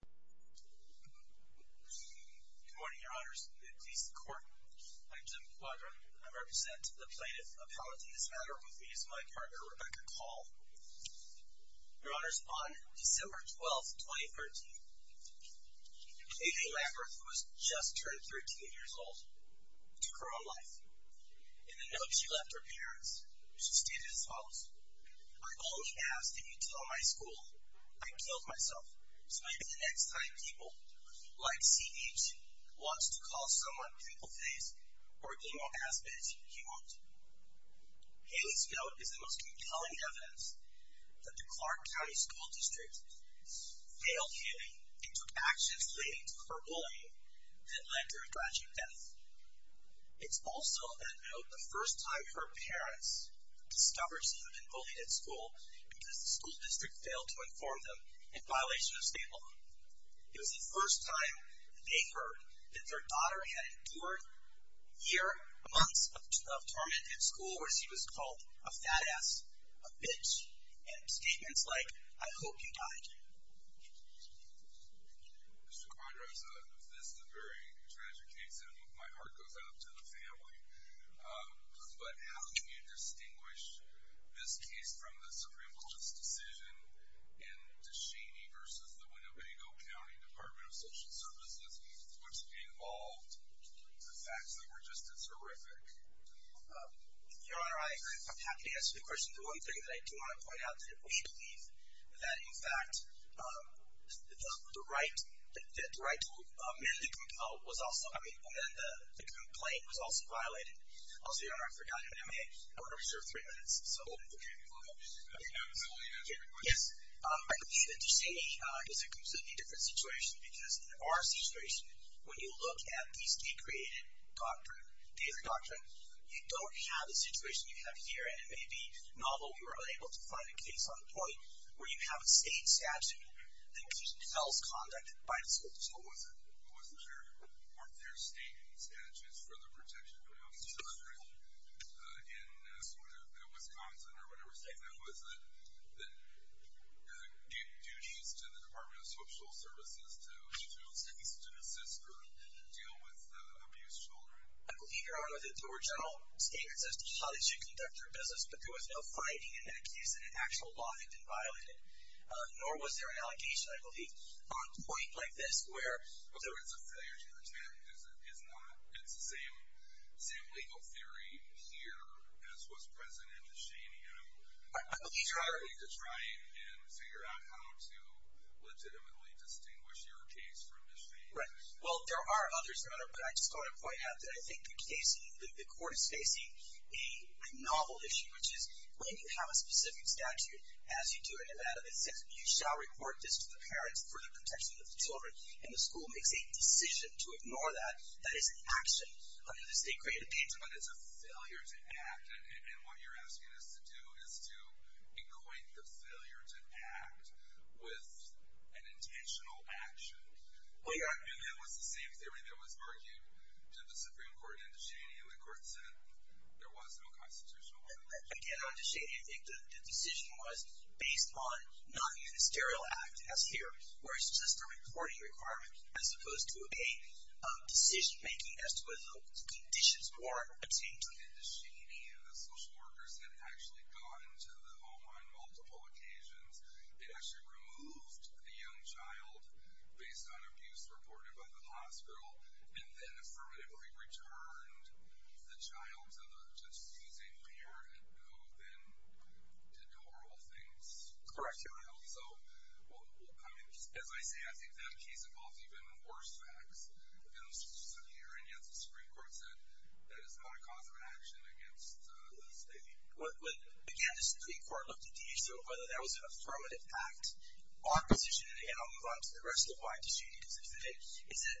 Good morning, your honors. The police court. I'm Jim Quadron. I represent the plaintiff appellate in this matter with me is my partner, Rebecca Call. Your honors, on December 12, 2013, Amy Lamberth, who was just turned 13 years old, took her own life. In the note she left her parents, she stated as follows, I only asked that you tell my school I killed myself, so maybe the next time people like CH wants to call someone pimple face or emo ass bitch, he won't. Haley's note is the most compelling evidence that the Clark County School District failed Haley and took actions related to her bullying that led to her tragic death. It's also that note the first time her parents discovered she had been bullied at school because the school district failed to inform them in violation of state law. It was the first time they heard that their daughter had endured a year, months of tormented school where she was called a fat ass, a bitch, and statements like, I hope you die, Jim. Mr. Quadron, this is a very tragic case, and my heart goes out to the family, but how can you distinguish this case from the Supreme Court's decision in Duchenne versus the Winnebago County Department of Social Services, which involved the facts that were just as horrific? Your Honor, I'm happy to answer the question. The one thing that I do want to point out is that we believe that, in fact, the right to merely compel was also, I mean, and then the complaint was also violated. Also, Your Honor, I forgot, in MA, I want to reserve three minutes, so. Yes. I believe that Duchenne is a completely different situation because in our situation, when you look at the state-created doctrine, you don't have the situation you have here, and it may be novel. We were unable to find a case on the point where you have a state statute that compels conduct by the school district. What was there? Weren't there state statutes for the protection of children in Wisconsin or whatever state that was that gave duties to the Department of Social Services to assist or deal with abused children? I believe, Your Honor, that there were general statements as to how they should conduct their business, but there was no finding in that case that an actual law had been violated, nor was there an allegation, I believe. On a point like this where there is a failure to protect is not, it's the same legal theory here as was present in Duchenne, and I'm trying to try and figure out how to legitimately distinguish your case from Duchenne. Right. Well, there are others, Your Honor, but I just want to point out that I think the court is facing a novel issue, which is when you have a specific statute, as you do in Nevada, that says, you shall report this to the parents for the protection of the children, and the school makes a decision to ignore that. That is an action under the state-created painting. But it's a failure to act, and what you're asking us to do is to equate the failure to act with an intentional action. Well, Your Honor. And that was the same theory that was argued to the Supreme Court in Duchenne, and the court said there was no constitutional obligation. Again, on Duchenne, I think the decision was based on not a ministerial act as here, where it's just a reporting requirement as opposed to a decision-making as to whether the conditions were attained. Duchenne, the social workers had actually gone to the home on multiple occasions and actually removed the young child based on abuse reported by the hospital, and then affirmatively returned the child to the deceased parent, who then did horrible things. Correct. Well, I mean, as I say, I think that case involves even worse facts than this one here, and yet the Supreme Court said that is not a cause of action against the state. Well, again, the Supreme Court looked at the issue of whether that was an affirmative act, opposition, and again, I'll move on to the rest of why Duchenne is offended, is that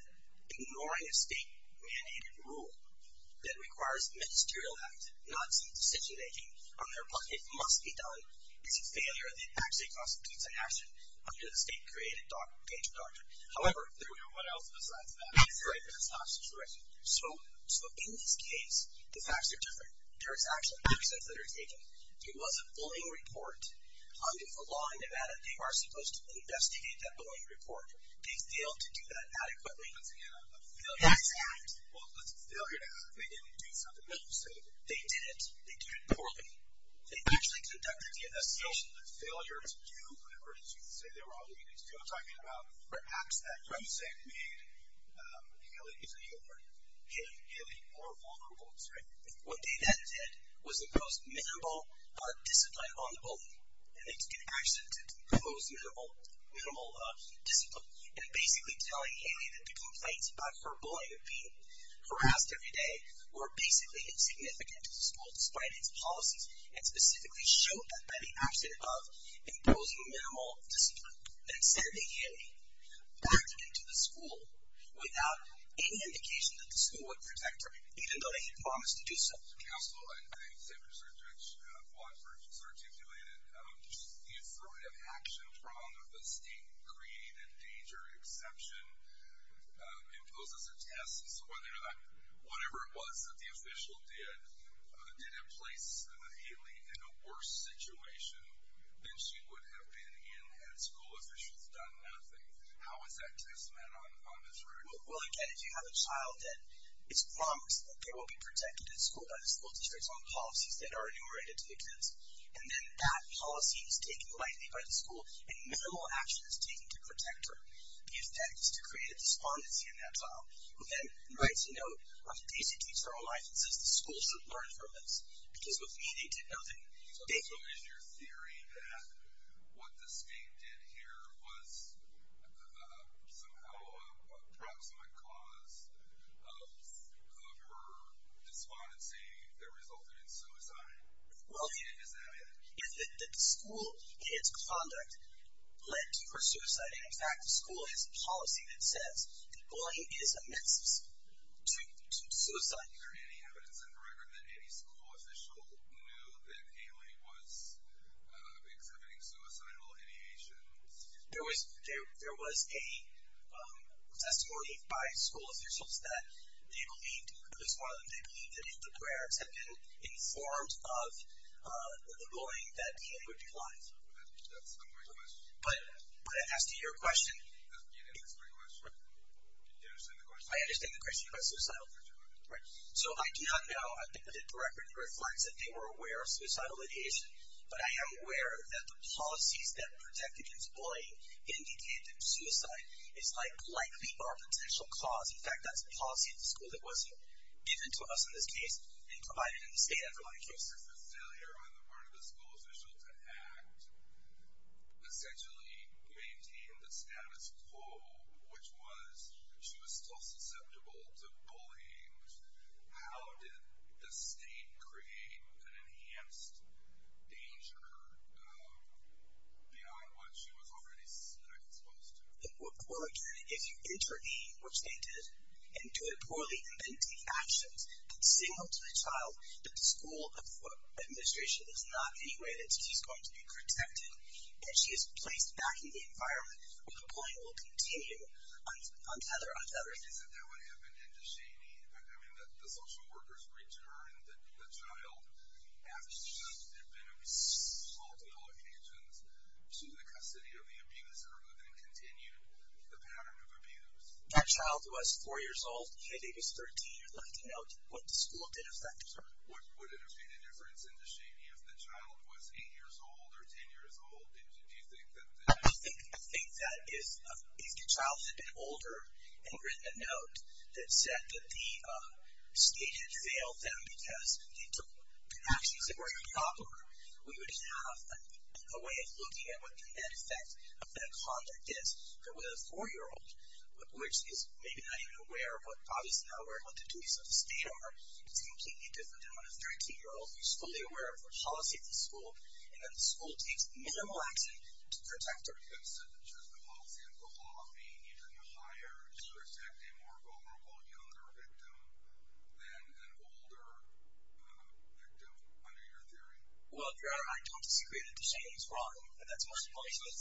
ignoring a state-mandated rule that requires ministerial act, not decision-making on their part. It must be done. It's a failure of the actual cause of deeds and action under the state-created danger doctrine. However— What else besides that? That's right. That's not a situation. So, in this case, the facts are different. There is actual evidence that are taken. There was a bullying report. Under the law in Nevada, they are supposed to investigate that bullying report. They failed to do that adequately. Once again, a failure to act. Well, it's a failure to act. They didn't do something else. They didn't. They did it poorly. They actually conducted the investigation. So, the failure to do whatever it is you say they were obligated to do. I'm talking about perhaps that Duchenne made Haley more vulnerable, right? What they then did was impose minimal discipline on the bully. And they took an action to impose minimal discipline. And basically telling Haley that the complaints about her bullying and being harassed every day were basically insignificant to the school, despite its policies, and specifically showed that by the action of imposing minimal discipline and sending Haley back into the school without any indication that the school would protect her, even though they had promised to do so. Mr. Counsel, I think Secretary Blanford has articulated the affirmative action from the state-created danger exception imposes a test as to whether or not whatever it was that the official did did it place Haley in a worse situation than she would have been in had school officials done nothing. How is that testament on this record? Well, again, if you have a child, then it's promised that they will be protected at school by the school districts on policies that are enumerated to the kids. And then that policy is taken lightly by the school, and minimal action is taken to protect her. The effect is to create a despondency in that child, who then writes a note of basic teacher licenses the school should learn from this. Because with Haley, they did nothing. So is your theory that what the state did here was somehow a proximate cause of her despondency that resulted in suicide? Well, the school and its conduct led to her suicide. In fact, the school has a policy that says that bullying is a means to suicide. Is there any evidence in the record that any school official knew that Haley was exhibiting suicidal ideations? There was a testimony by school officials that they believed, at least one of them, they believed that if the parents had been informed of the bullying, that Haley would decline. That's my question. But I asked you your question. That's my question. Do you understand the question? Right. So I do not know. I think that the record reflects that they were aware of suicidal ideation. But I am aware that the policies that protect against bullying indicate that suicide is likely our potential cause. In fact, that's a policy at the school that was given to us in this case and provided in the state after my case. Does the failure on the part of the school official to act essentially maintain the status quo, which was she was still susceptible to bullying? How did the state create an enhanced danger behind what she was already exposed to? Well, again, if you intervene, which they did, and do it poorly, and then take actions that signal to the child that the school administration is not any way that she's going to be protected and she is placed back in the environment, the bullying will continue untethered. Isn't that what happened in Deshanie? I mean, the social workers returned the child after there had been multiple occasions to the custody of the abuser, but then continued the pattern of abuse. That child was 4 years old. The kid was 13. You're looking at what the school did affect her. Would it have made a difference in Deshanie if the child was 8 years old or 10 years old? I think that if the child had been older and written a note that said that the state had failed them because they took actions that were improper, we would have a way of looking at what the net effect of that conduct is. But with a 4-year-old, which is maybe not even aware of what the duties of the state are, it's completely different than when a 13-year-old is fully aware of the policy of the school and that the school takes minimal action to protect her. So the policy of the law being even higher is to protect a more vulnerable younger victim than an older victim under your theory? Well, Your Honor, I don't disagree that Deshanie is wrong, and that's my policy.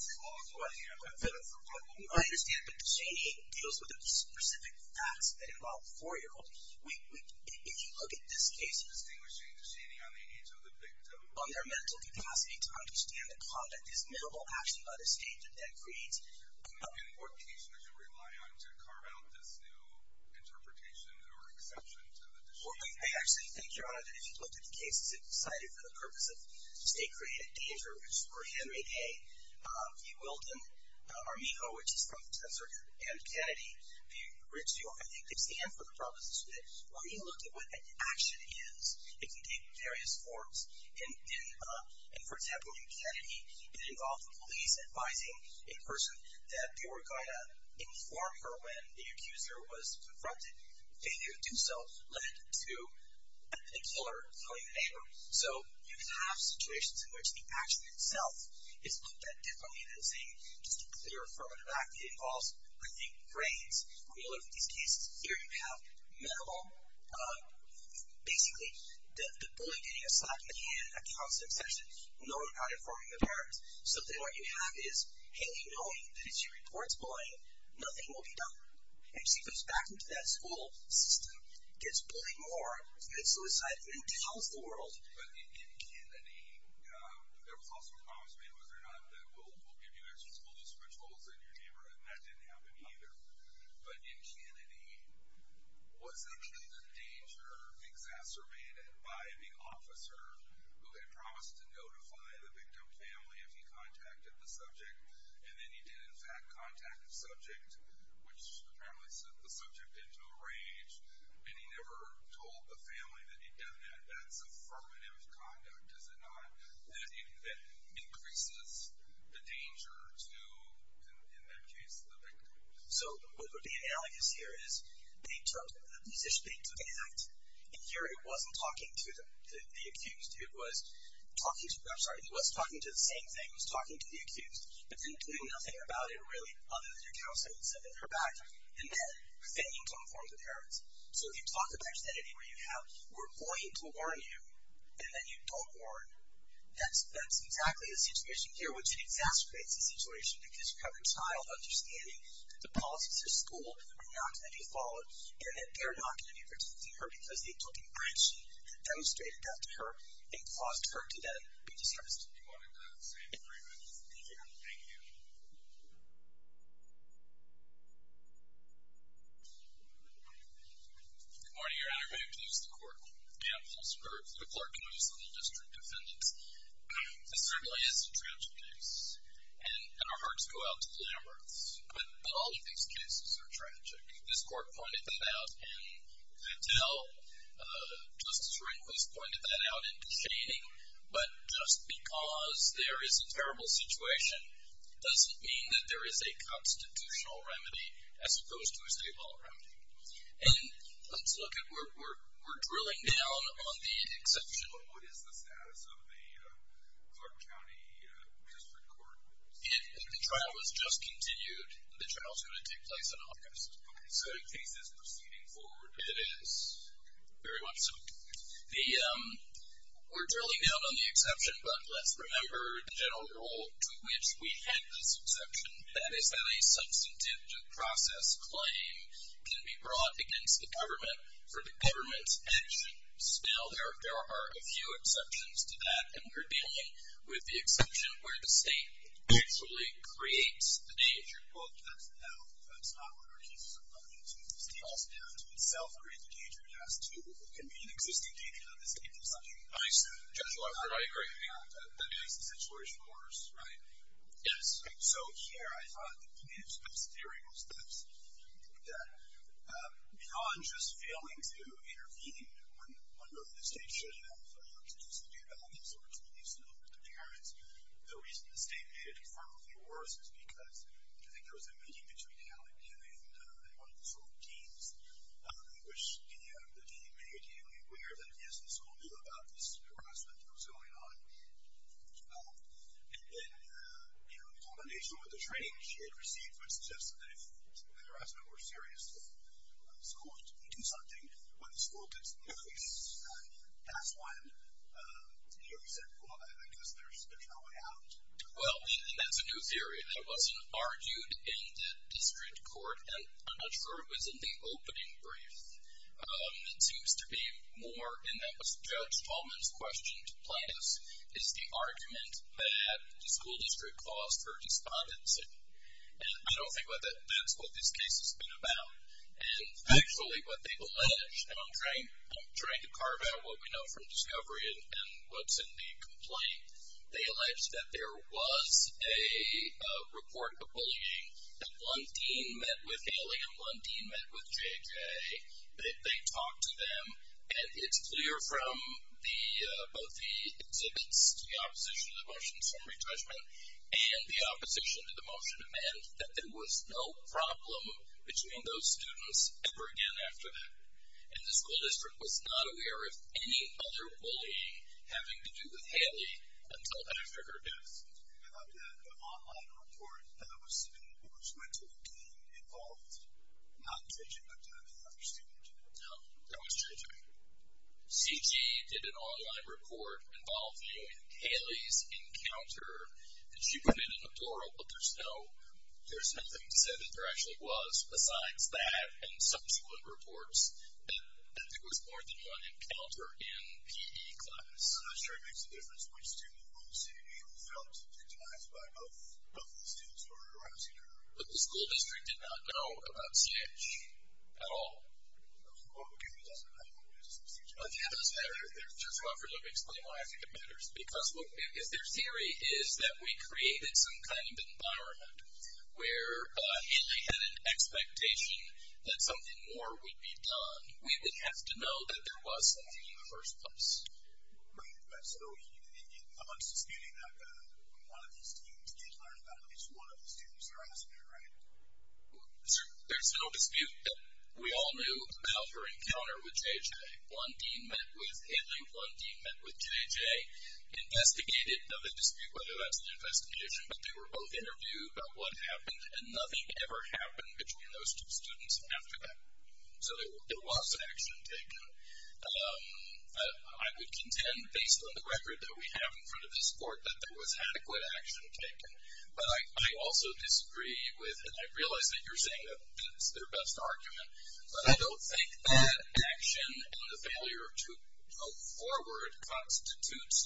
I understand, but Deshanie deals with the specific facts that involve 4-year-olds. If you look at this case, on their mental capacity to understand that conduct is minimal action by the state, and that creates... Well, I actually think, Your Honor, that if you looked at the cases that were cited for the purpose of state-created danger, which were Henry Day, V. Wilden, Armijo, which is from the Tesseract, and Kennedy v. Rizzo, I think they stand for the proposition that when you look at what an action is, it can take various forms. And for example, in Kennedy, it involved the police advising a person that they were going to inform her when the accuser was confronted. Failure to do so led to the killer killing the neighbor. So you can have situations in which the action itself is looked at differently than saying just a clear affirmative act that involves, I think, brains. When you look at these cases, here you have medical... Basically, the bully getting a slap in the hand, a constant obsession, knowing how to inform the parents. So then what you have is, Haley knowing that if she reports bullying, nothing will be done. And she goes back into that school system, gets bullied more, commits suicide, and then tells the world. But in Kennedy, there was also a promise made, was there not, that we'll give you extra school district schools in your neighborhood, and that didn't happen either. But in Kennedy, was the killer's danger exacerbated by the officer who had promised to notify the victim family if he contacted the subject, and then he did in fact contact the subject, which apparently set the subject into a rage, and he never told the family that he'd done that? That's affirmative conduct, is it not? That increases the danger to, in that case, the victim. So what would be analogous here is they took a position, they took an act, and here it wasn't talking to the accused, it was talking to... I'm sorry, it was talking to the same thing, it was talking to the accused, but then doing nothing about it, really, other than your counseling and sending her back, and then pretending to inform the parents. So if you talk about an identity where you have, we're going to warn you, and then you don't warn, that's exactly the situation here, which exacerbates the situation, because you have your child understanding that the policies of school are not going to be followed, and that they're not going to be protecting her because they took an action that demonstrated that to her and caused her to then be discharged. We wanted that same agreement. Thank you. Thank you. Good morning, Your Honor. May it please the Court? May it please the Court. The Clerk and the District Defendants. This certainly is a tragic case, and our hearts go out to the Amherst, but all of these cases are tragic. This Court pointed that out, and I tell Justice Rehnquist pointed that out in the shading, but just because there is a terrible situation doesn't mean that there is a constitutional remedy as opposed to a state law remedy. And let's look at where we're drilling down on the exception. What is the status of the Clark County District Court? The trial has just continued. The trial is going to take place in August. Okay, so the case is proceeding forward. It is. Okay. Very much so. We're drilling down on the exception, but let's remember the general rule to which we had this exception, that is that a substantive due process claim can be brought against the government for the government's actions. Now, there are a few exceptions to that, and we're dealing with the exception where the state actually creates the danger. Well, that's not what our case is about. It's also down to itself creating the danger. It can be an existing danger to the state. Nice. I agree. That makes the situation worse, right? Yes. So here, I thought that we had some very good steps. I think that beyond just failing to intervene when the state should have looked to do something about it, so it's at least a little bit apparent. The reason the state made it far more worse is because I think there were some sort of deems, which in the end, the deem made you aware that, yes, the school knew about this harassment that was going on. And then, you know, in combination with the training she had received, which suggested that if the harassment were serious, the school would do something. When the school did notice, that's when you said, well, I guess there's no way out. Well, and that's a new theory. That wasn't argued in the district court, and I'm not sure it was in the opening brief. It seems to be more, and that was Judge Tallman's question to Plattus, is the argument that the school district caused her despondency. And I don't think that that's what this case has been about. And actually, what they allege, and I'm trying to carve out what we know from discovery and what's in the report of bullying, that one dean met with Haley, and one dean met with JJ. They talked to them, and it's clear from both the exhibits, the opposition to the motions from retrenchment, and the opposition to the motion in the end, that there was no problem between those students ever again after that. And the school district was not aware of any other bullying having to do with Haley until after her death. And I've got an online report that was sent to the dean involved, not JJ, but other students. No, that was JJ. CJ did an online report involving Haley's encounter. She put it in a plural, but there's nothing said that there actually was, besides that and subsequent reports, that there was more than one encounter in PE class. I'm not sure it makes a difference which student in the city who felt victimized by both the students who were around CJ. But the school district did not know about CJ at all. Well, it could be that, but I don't know what it is in CJ. It does matter. Just to offer to explain why I think it matters. Because their theory is that we created some kind of environment where Haley had an expectation that something more would be done. We would have to know that there was something in the first place. Right. So I'm not disputing that one of these students did learn about it. It's one of the students that are asking it, right? There's no dispute that we all knew about her encounter with JJ. One dean met with Haley. One dean met with JJ, investigated. There's no dispute whether that's an investigation, but they were both interviewed about what happened, and nothing ever happened between those two students after that. So there was action taken. I would contend, based on the record that we have in front of this board, that there was adequate action taken. But I also disagree with, and I realize that you're saying that that's their best argument, but I don't think that action and the failure to move forward constitutes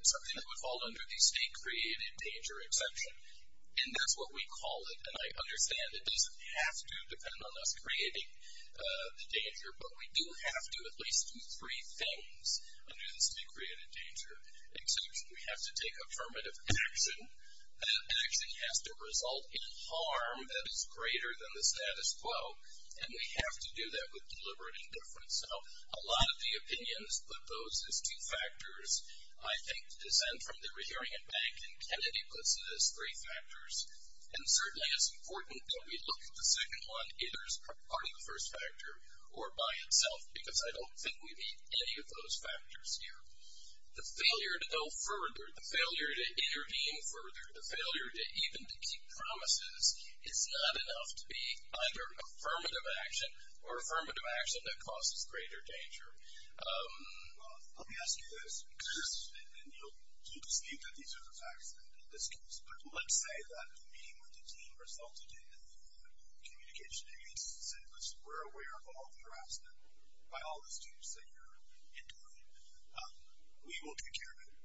something that would fall under the state-created danger exception. And that's what we call it, and I understand. It doesn't have to depend on us creating the danger, but we do have to at least do three things under the state-created danger exception. We have to take affirmative action. That action has to result in harm that is greater than the status quo, and we have to do that with deliberate indifference. So a lot of the opinions put those as two factors, I think, to descend from the Rehering and Bank, and Kennedy puts it as three factors. And certainly it's important that we look at the second one either as part of the first factor or by itself, because I don't think we need any of those factors here. The failure to go further, the failure to intervene further, the failure even to keep promises is not enough to be either affirmative action or affirmative action that causes greater danger. Let me ask you this, and you'll dispute that these are the facts in this case, but let's say that a meeting with the team resulted in communication against the syllabus. We're aware of all the harassment by all the students that you're employing. We will take care of it.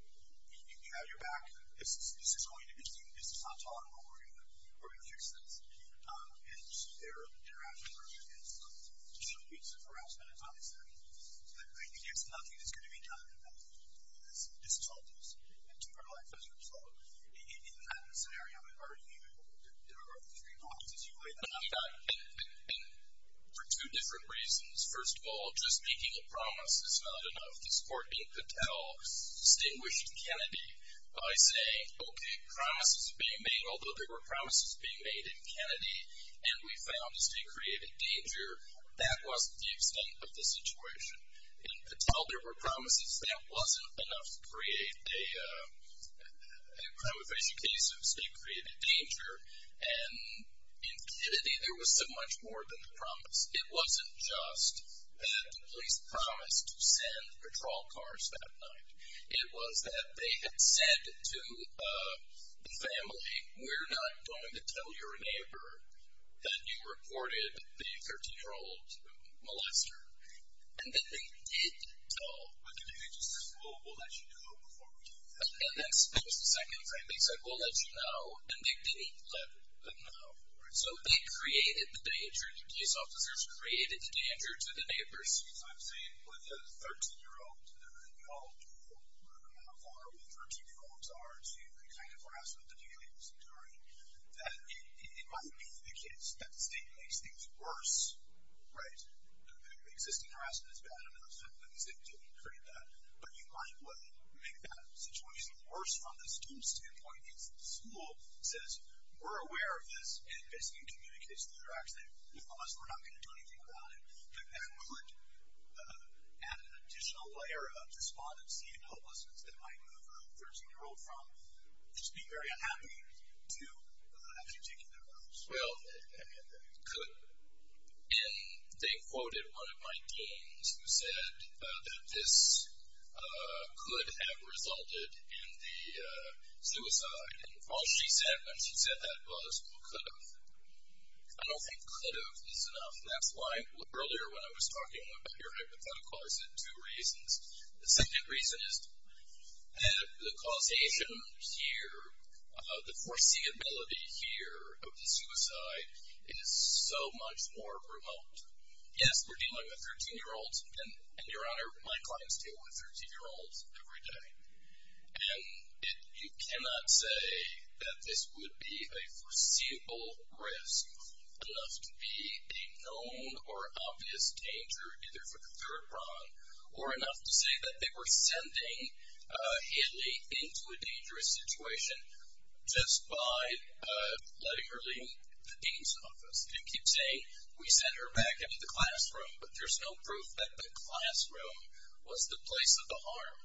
You have your back. This is going to be seen. This is not taught. We're going to fix this. And so their interaction works against them. So it's harassment. It's not accepted. So I think there's nothing that's going to be done about this. And for two different reasons, first of all, just making a promise is not enough. This court in Patel distinguished Kennedy by saying, okay, promises are being made, although there were promises being made in Kennedy, and we found as they created danger, that wasn't the extent of the situation. In Patel, there were promises. That wasn't enough to create a crime evasion case. It created danger. And in Kennedy, there was so much more than the promise. It wasn't just that the police promised to send patrol cars that night. It was that they had said to the family, we're not going to tell your neighbor that you reported the 13-year-old molester. And then they did tell. But Kennedy just said, well, we'll let you know before we do that. And that's the second thing. They said, we'll let you know. And they didn't let them know. So they created the danger. The police officers created the danger to the neighbors. So I'm saying with a 13-year-old, you all know how hard with 13-year-olds are to kind of grasp what the family was doing, that it might be for the kids. That state makes things worse. Existing harassment is bad enough. The police didn't create that. But you might make that situation worse from the student's standpoint. Because the school says, we're aware of this, and basically communicates the interaction. Unless we're not going to do anything about it, that could add an additional layer of despondency and hopelessness that might move a 13-year-old from just being very unhappy to actually taking their vows. Well, and they quoted one of my deans who said that this could have resulted in the suicide. And all she said when she said that was, well, could have. I don't think could have is enough. And that's why earlier when I was talking about your hypothetical, I said two reasons. The second reason is that the causation here, the foreseeability here of the suicide is so much more remote. Yes, we're dealing with 13-year-olds. And, Your Honor, my clients deal with 13-year-olds every day. And you cannot say that this would be a foreseeable risk, enough to be a known or obvious danger either for the third prong, or enough to say that they were sending Hidley into a dangerous situation just by letting her leave the dean's office. You keep saying we sent her back into the classroom, but there's no proof that the classroom was the place of the harm.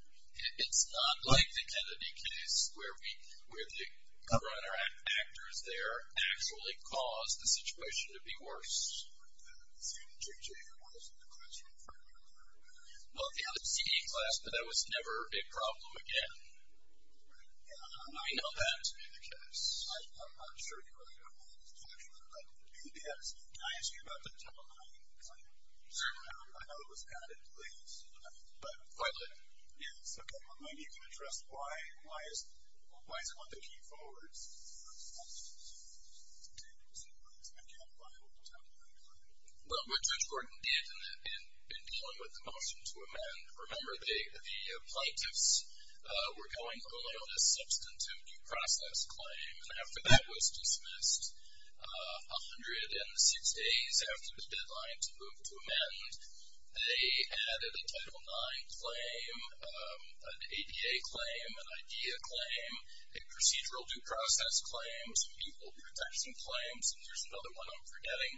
It's not like the Kennedy case where the cover on our actors there actually caused the situation to be worse. It was the same JJ who was in the classroom. Well, the other CD class, but that was never a problem again. I know that. I'm sure you are. Yes. Can I ask you about the telemining claim? I know it was added late. But finally. Yes. Okay. Well, maybe you can address why is it one of the key forwards to dealing with the telemining claim? Well, what Judge Gordon did in dealing with the motion to amend, remember the plaintiffs were going only on a substantive due process claim. And after that was dismissed, 106 days after the deadline to move to amend, they added a Title IX claim, an ADA claim, an IDEA claim, a procedural due process claim, some equal protection claims, and there's another one I'm forgetting.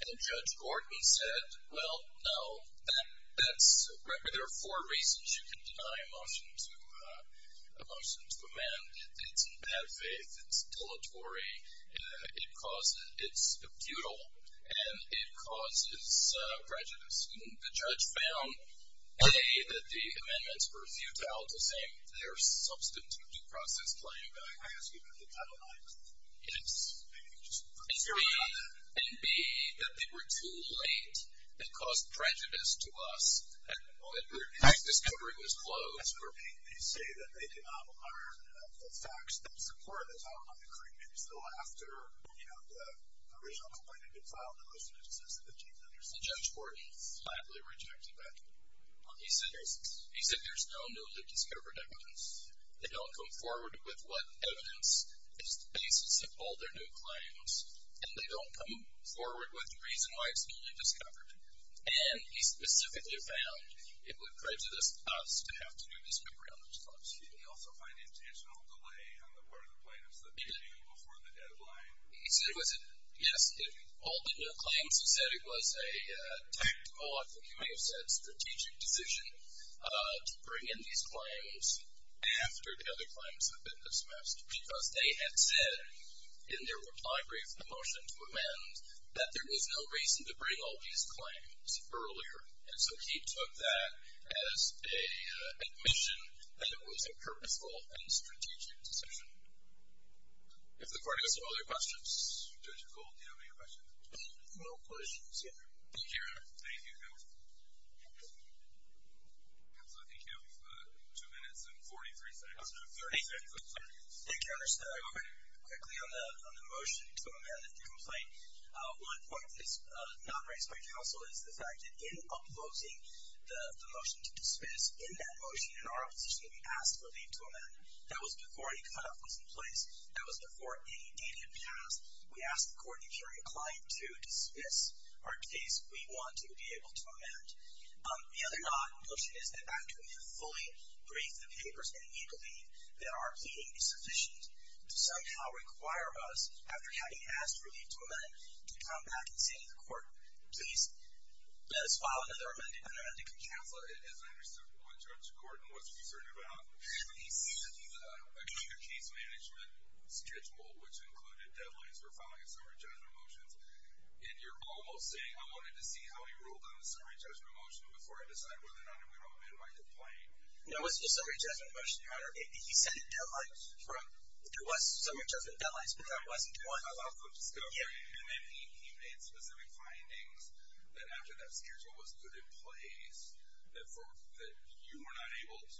And Judge Gordon said, well, no, there are four reasons you can deny a motion to amend. It's in bad faith, it's dilatory, it's futile, and it causes prejudice. And the judge found, A, that the amendments were futile to say their substantive due process claim. Can I ask you about the Title IX? Yes. And B, that they were too late. It caused prejudice to us. And his discovery was closed. As for B, they say that they did not honor the facts that supported the Title IX decree. Maybe still after, you know, the original complaint had been filed, the motion had been dismissed and the change was understood. And Judge Gordon flatly rejected that. He said there's no newly discovered evidence. They don't come forward with what evidence is the basis of all their new claims. And they don't come forward with the reason why it's newly discovered. And he specifically found it would prejudice us to have to do discovery on those claims. Did he also find intentional delay on the part of the plaintiffs that came in before the deadline? He said it was a, yes, all the new claims, he also said it was a tactical, I think he may have said, strategic decision to bring in these claims after the other claims had been dismissed. Because they had said in their reply brief the motion to amend that there was no reason to bring all these claims earlier. And so he took that as a admission that it was a purposeful and strategic decision. If the court has no other questions. Judge Gould, do you have any questions? No questions. Thank you. Thank you, counsel. Counsel, I think you have two minutes and 43 seconds. 30 seconds, I'm sorry. Thank you, Your Honor. Just quickly on the motion to amend the complaint. One point that is not raised by counsel is the fact that in upvoting the motion to dismiss, in that motion, in our opposition to be asked to leave to amend, that was before any cutoff was in place. That was before any data had passed. We asked the court in hearing a client to dismiss our case. We want to be able to amend. The other notion is that after we have fully briefed the papers, and we believe that our pleading is sufficient, to somehow require us, after having asked to leave to amend, to come back and say to the court, please let us file another unamended complaint. Counsel, as I understood what Judge Gordon was concerned about, he said that he was on a case management schedule, which included deadlines for filing a summary judgment motion, and you're almost saying I wanted to see how he ruled on the summary judgment motion before I decide whether or not I'm going to amend my complaint. No, it wasn't a summary judgment motion, Your Honor. He said deadlines. There was summary judgment deadlines, but that wasn't one. And then he made specific findings that after that schedule was put in place, that you were not able to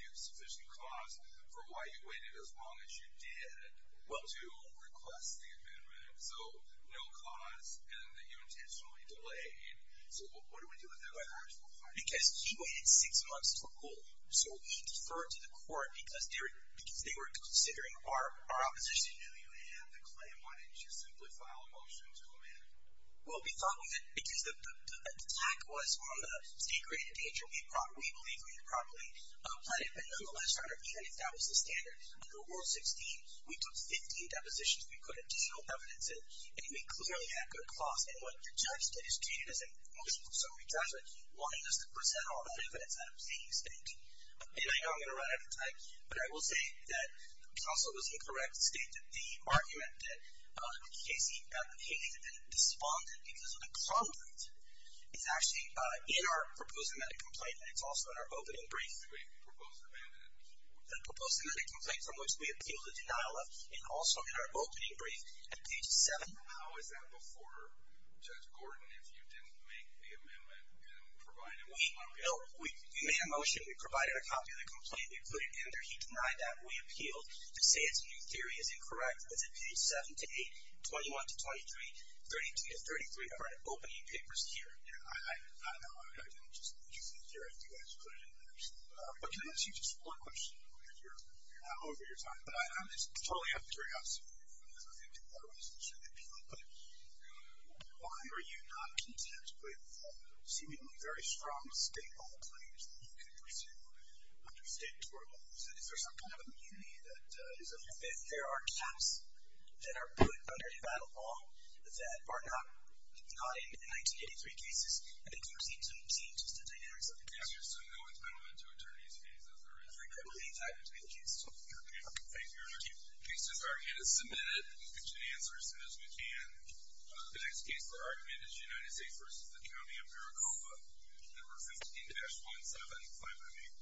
give sufficient cause for why you waited as long as you did to request the amendment. So no cause, and that you intentionally delayed. So what do we do with that? Because he waited six months to rule, so he deferred to the court because they were considering our opposition. You knew you had the claim. Why didn't you simply file a motion to amend? Well, we thought because the attack was on the state grade endangerment, we believe we had properly planned it, but nonetheless, Your Honor, even if that was the standard, under Rule 16, we took 15 depositions. We put additional evidence in, and we clearly had good cause, and what the judge did is treat it as a motion for summary judgment, wanting us to present all that evidence out of state. And I know I'm going to run out of time, but I will say that counsel was incorrect, state that the argument that Casey responded because of the problem is actually in our proposed amendment complaint, and it's also in our opening brief. The proposed amendment? The proposed amendment complaint from which we appealed the denial of, and also in our opening brief at page 7. How is that before Judge Gordon if you didn't make the amendment and provided a copy of the complaint? We made a motion. We provided a copy of the complaint. We put it in there. He denied that. We appealed. To say it's a new theory is incorrect. It's in page 7 to 8, 21 to 23, 32 to 33 of our opening papers here. I don't know. I didn't just use it here. I think I just put it in there. But can I ask you just one question? I know you're over your time, but I'm just totally up to your house. I don't think that that was the issue that people put. Why are you not content with seemingly very strong state law claims that you could pursue under state tort laws? Is there some kind of immunity that is of your faith? There are caps that are put under the battle law that are not in 1983 cases. I think you received some changes to dynamics of the cases. So no one's been allowed to attorney's fees, is there? I think that would be the case. Okay. Thank you, Your Honor. The case has already been submitted. We'll get you an answer as soon as we can. The next case for argument is United States v. the County of Maricopa. Number 15-17. Fine by me.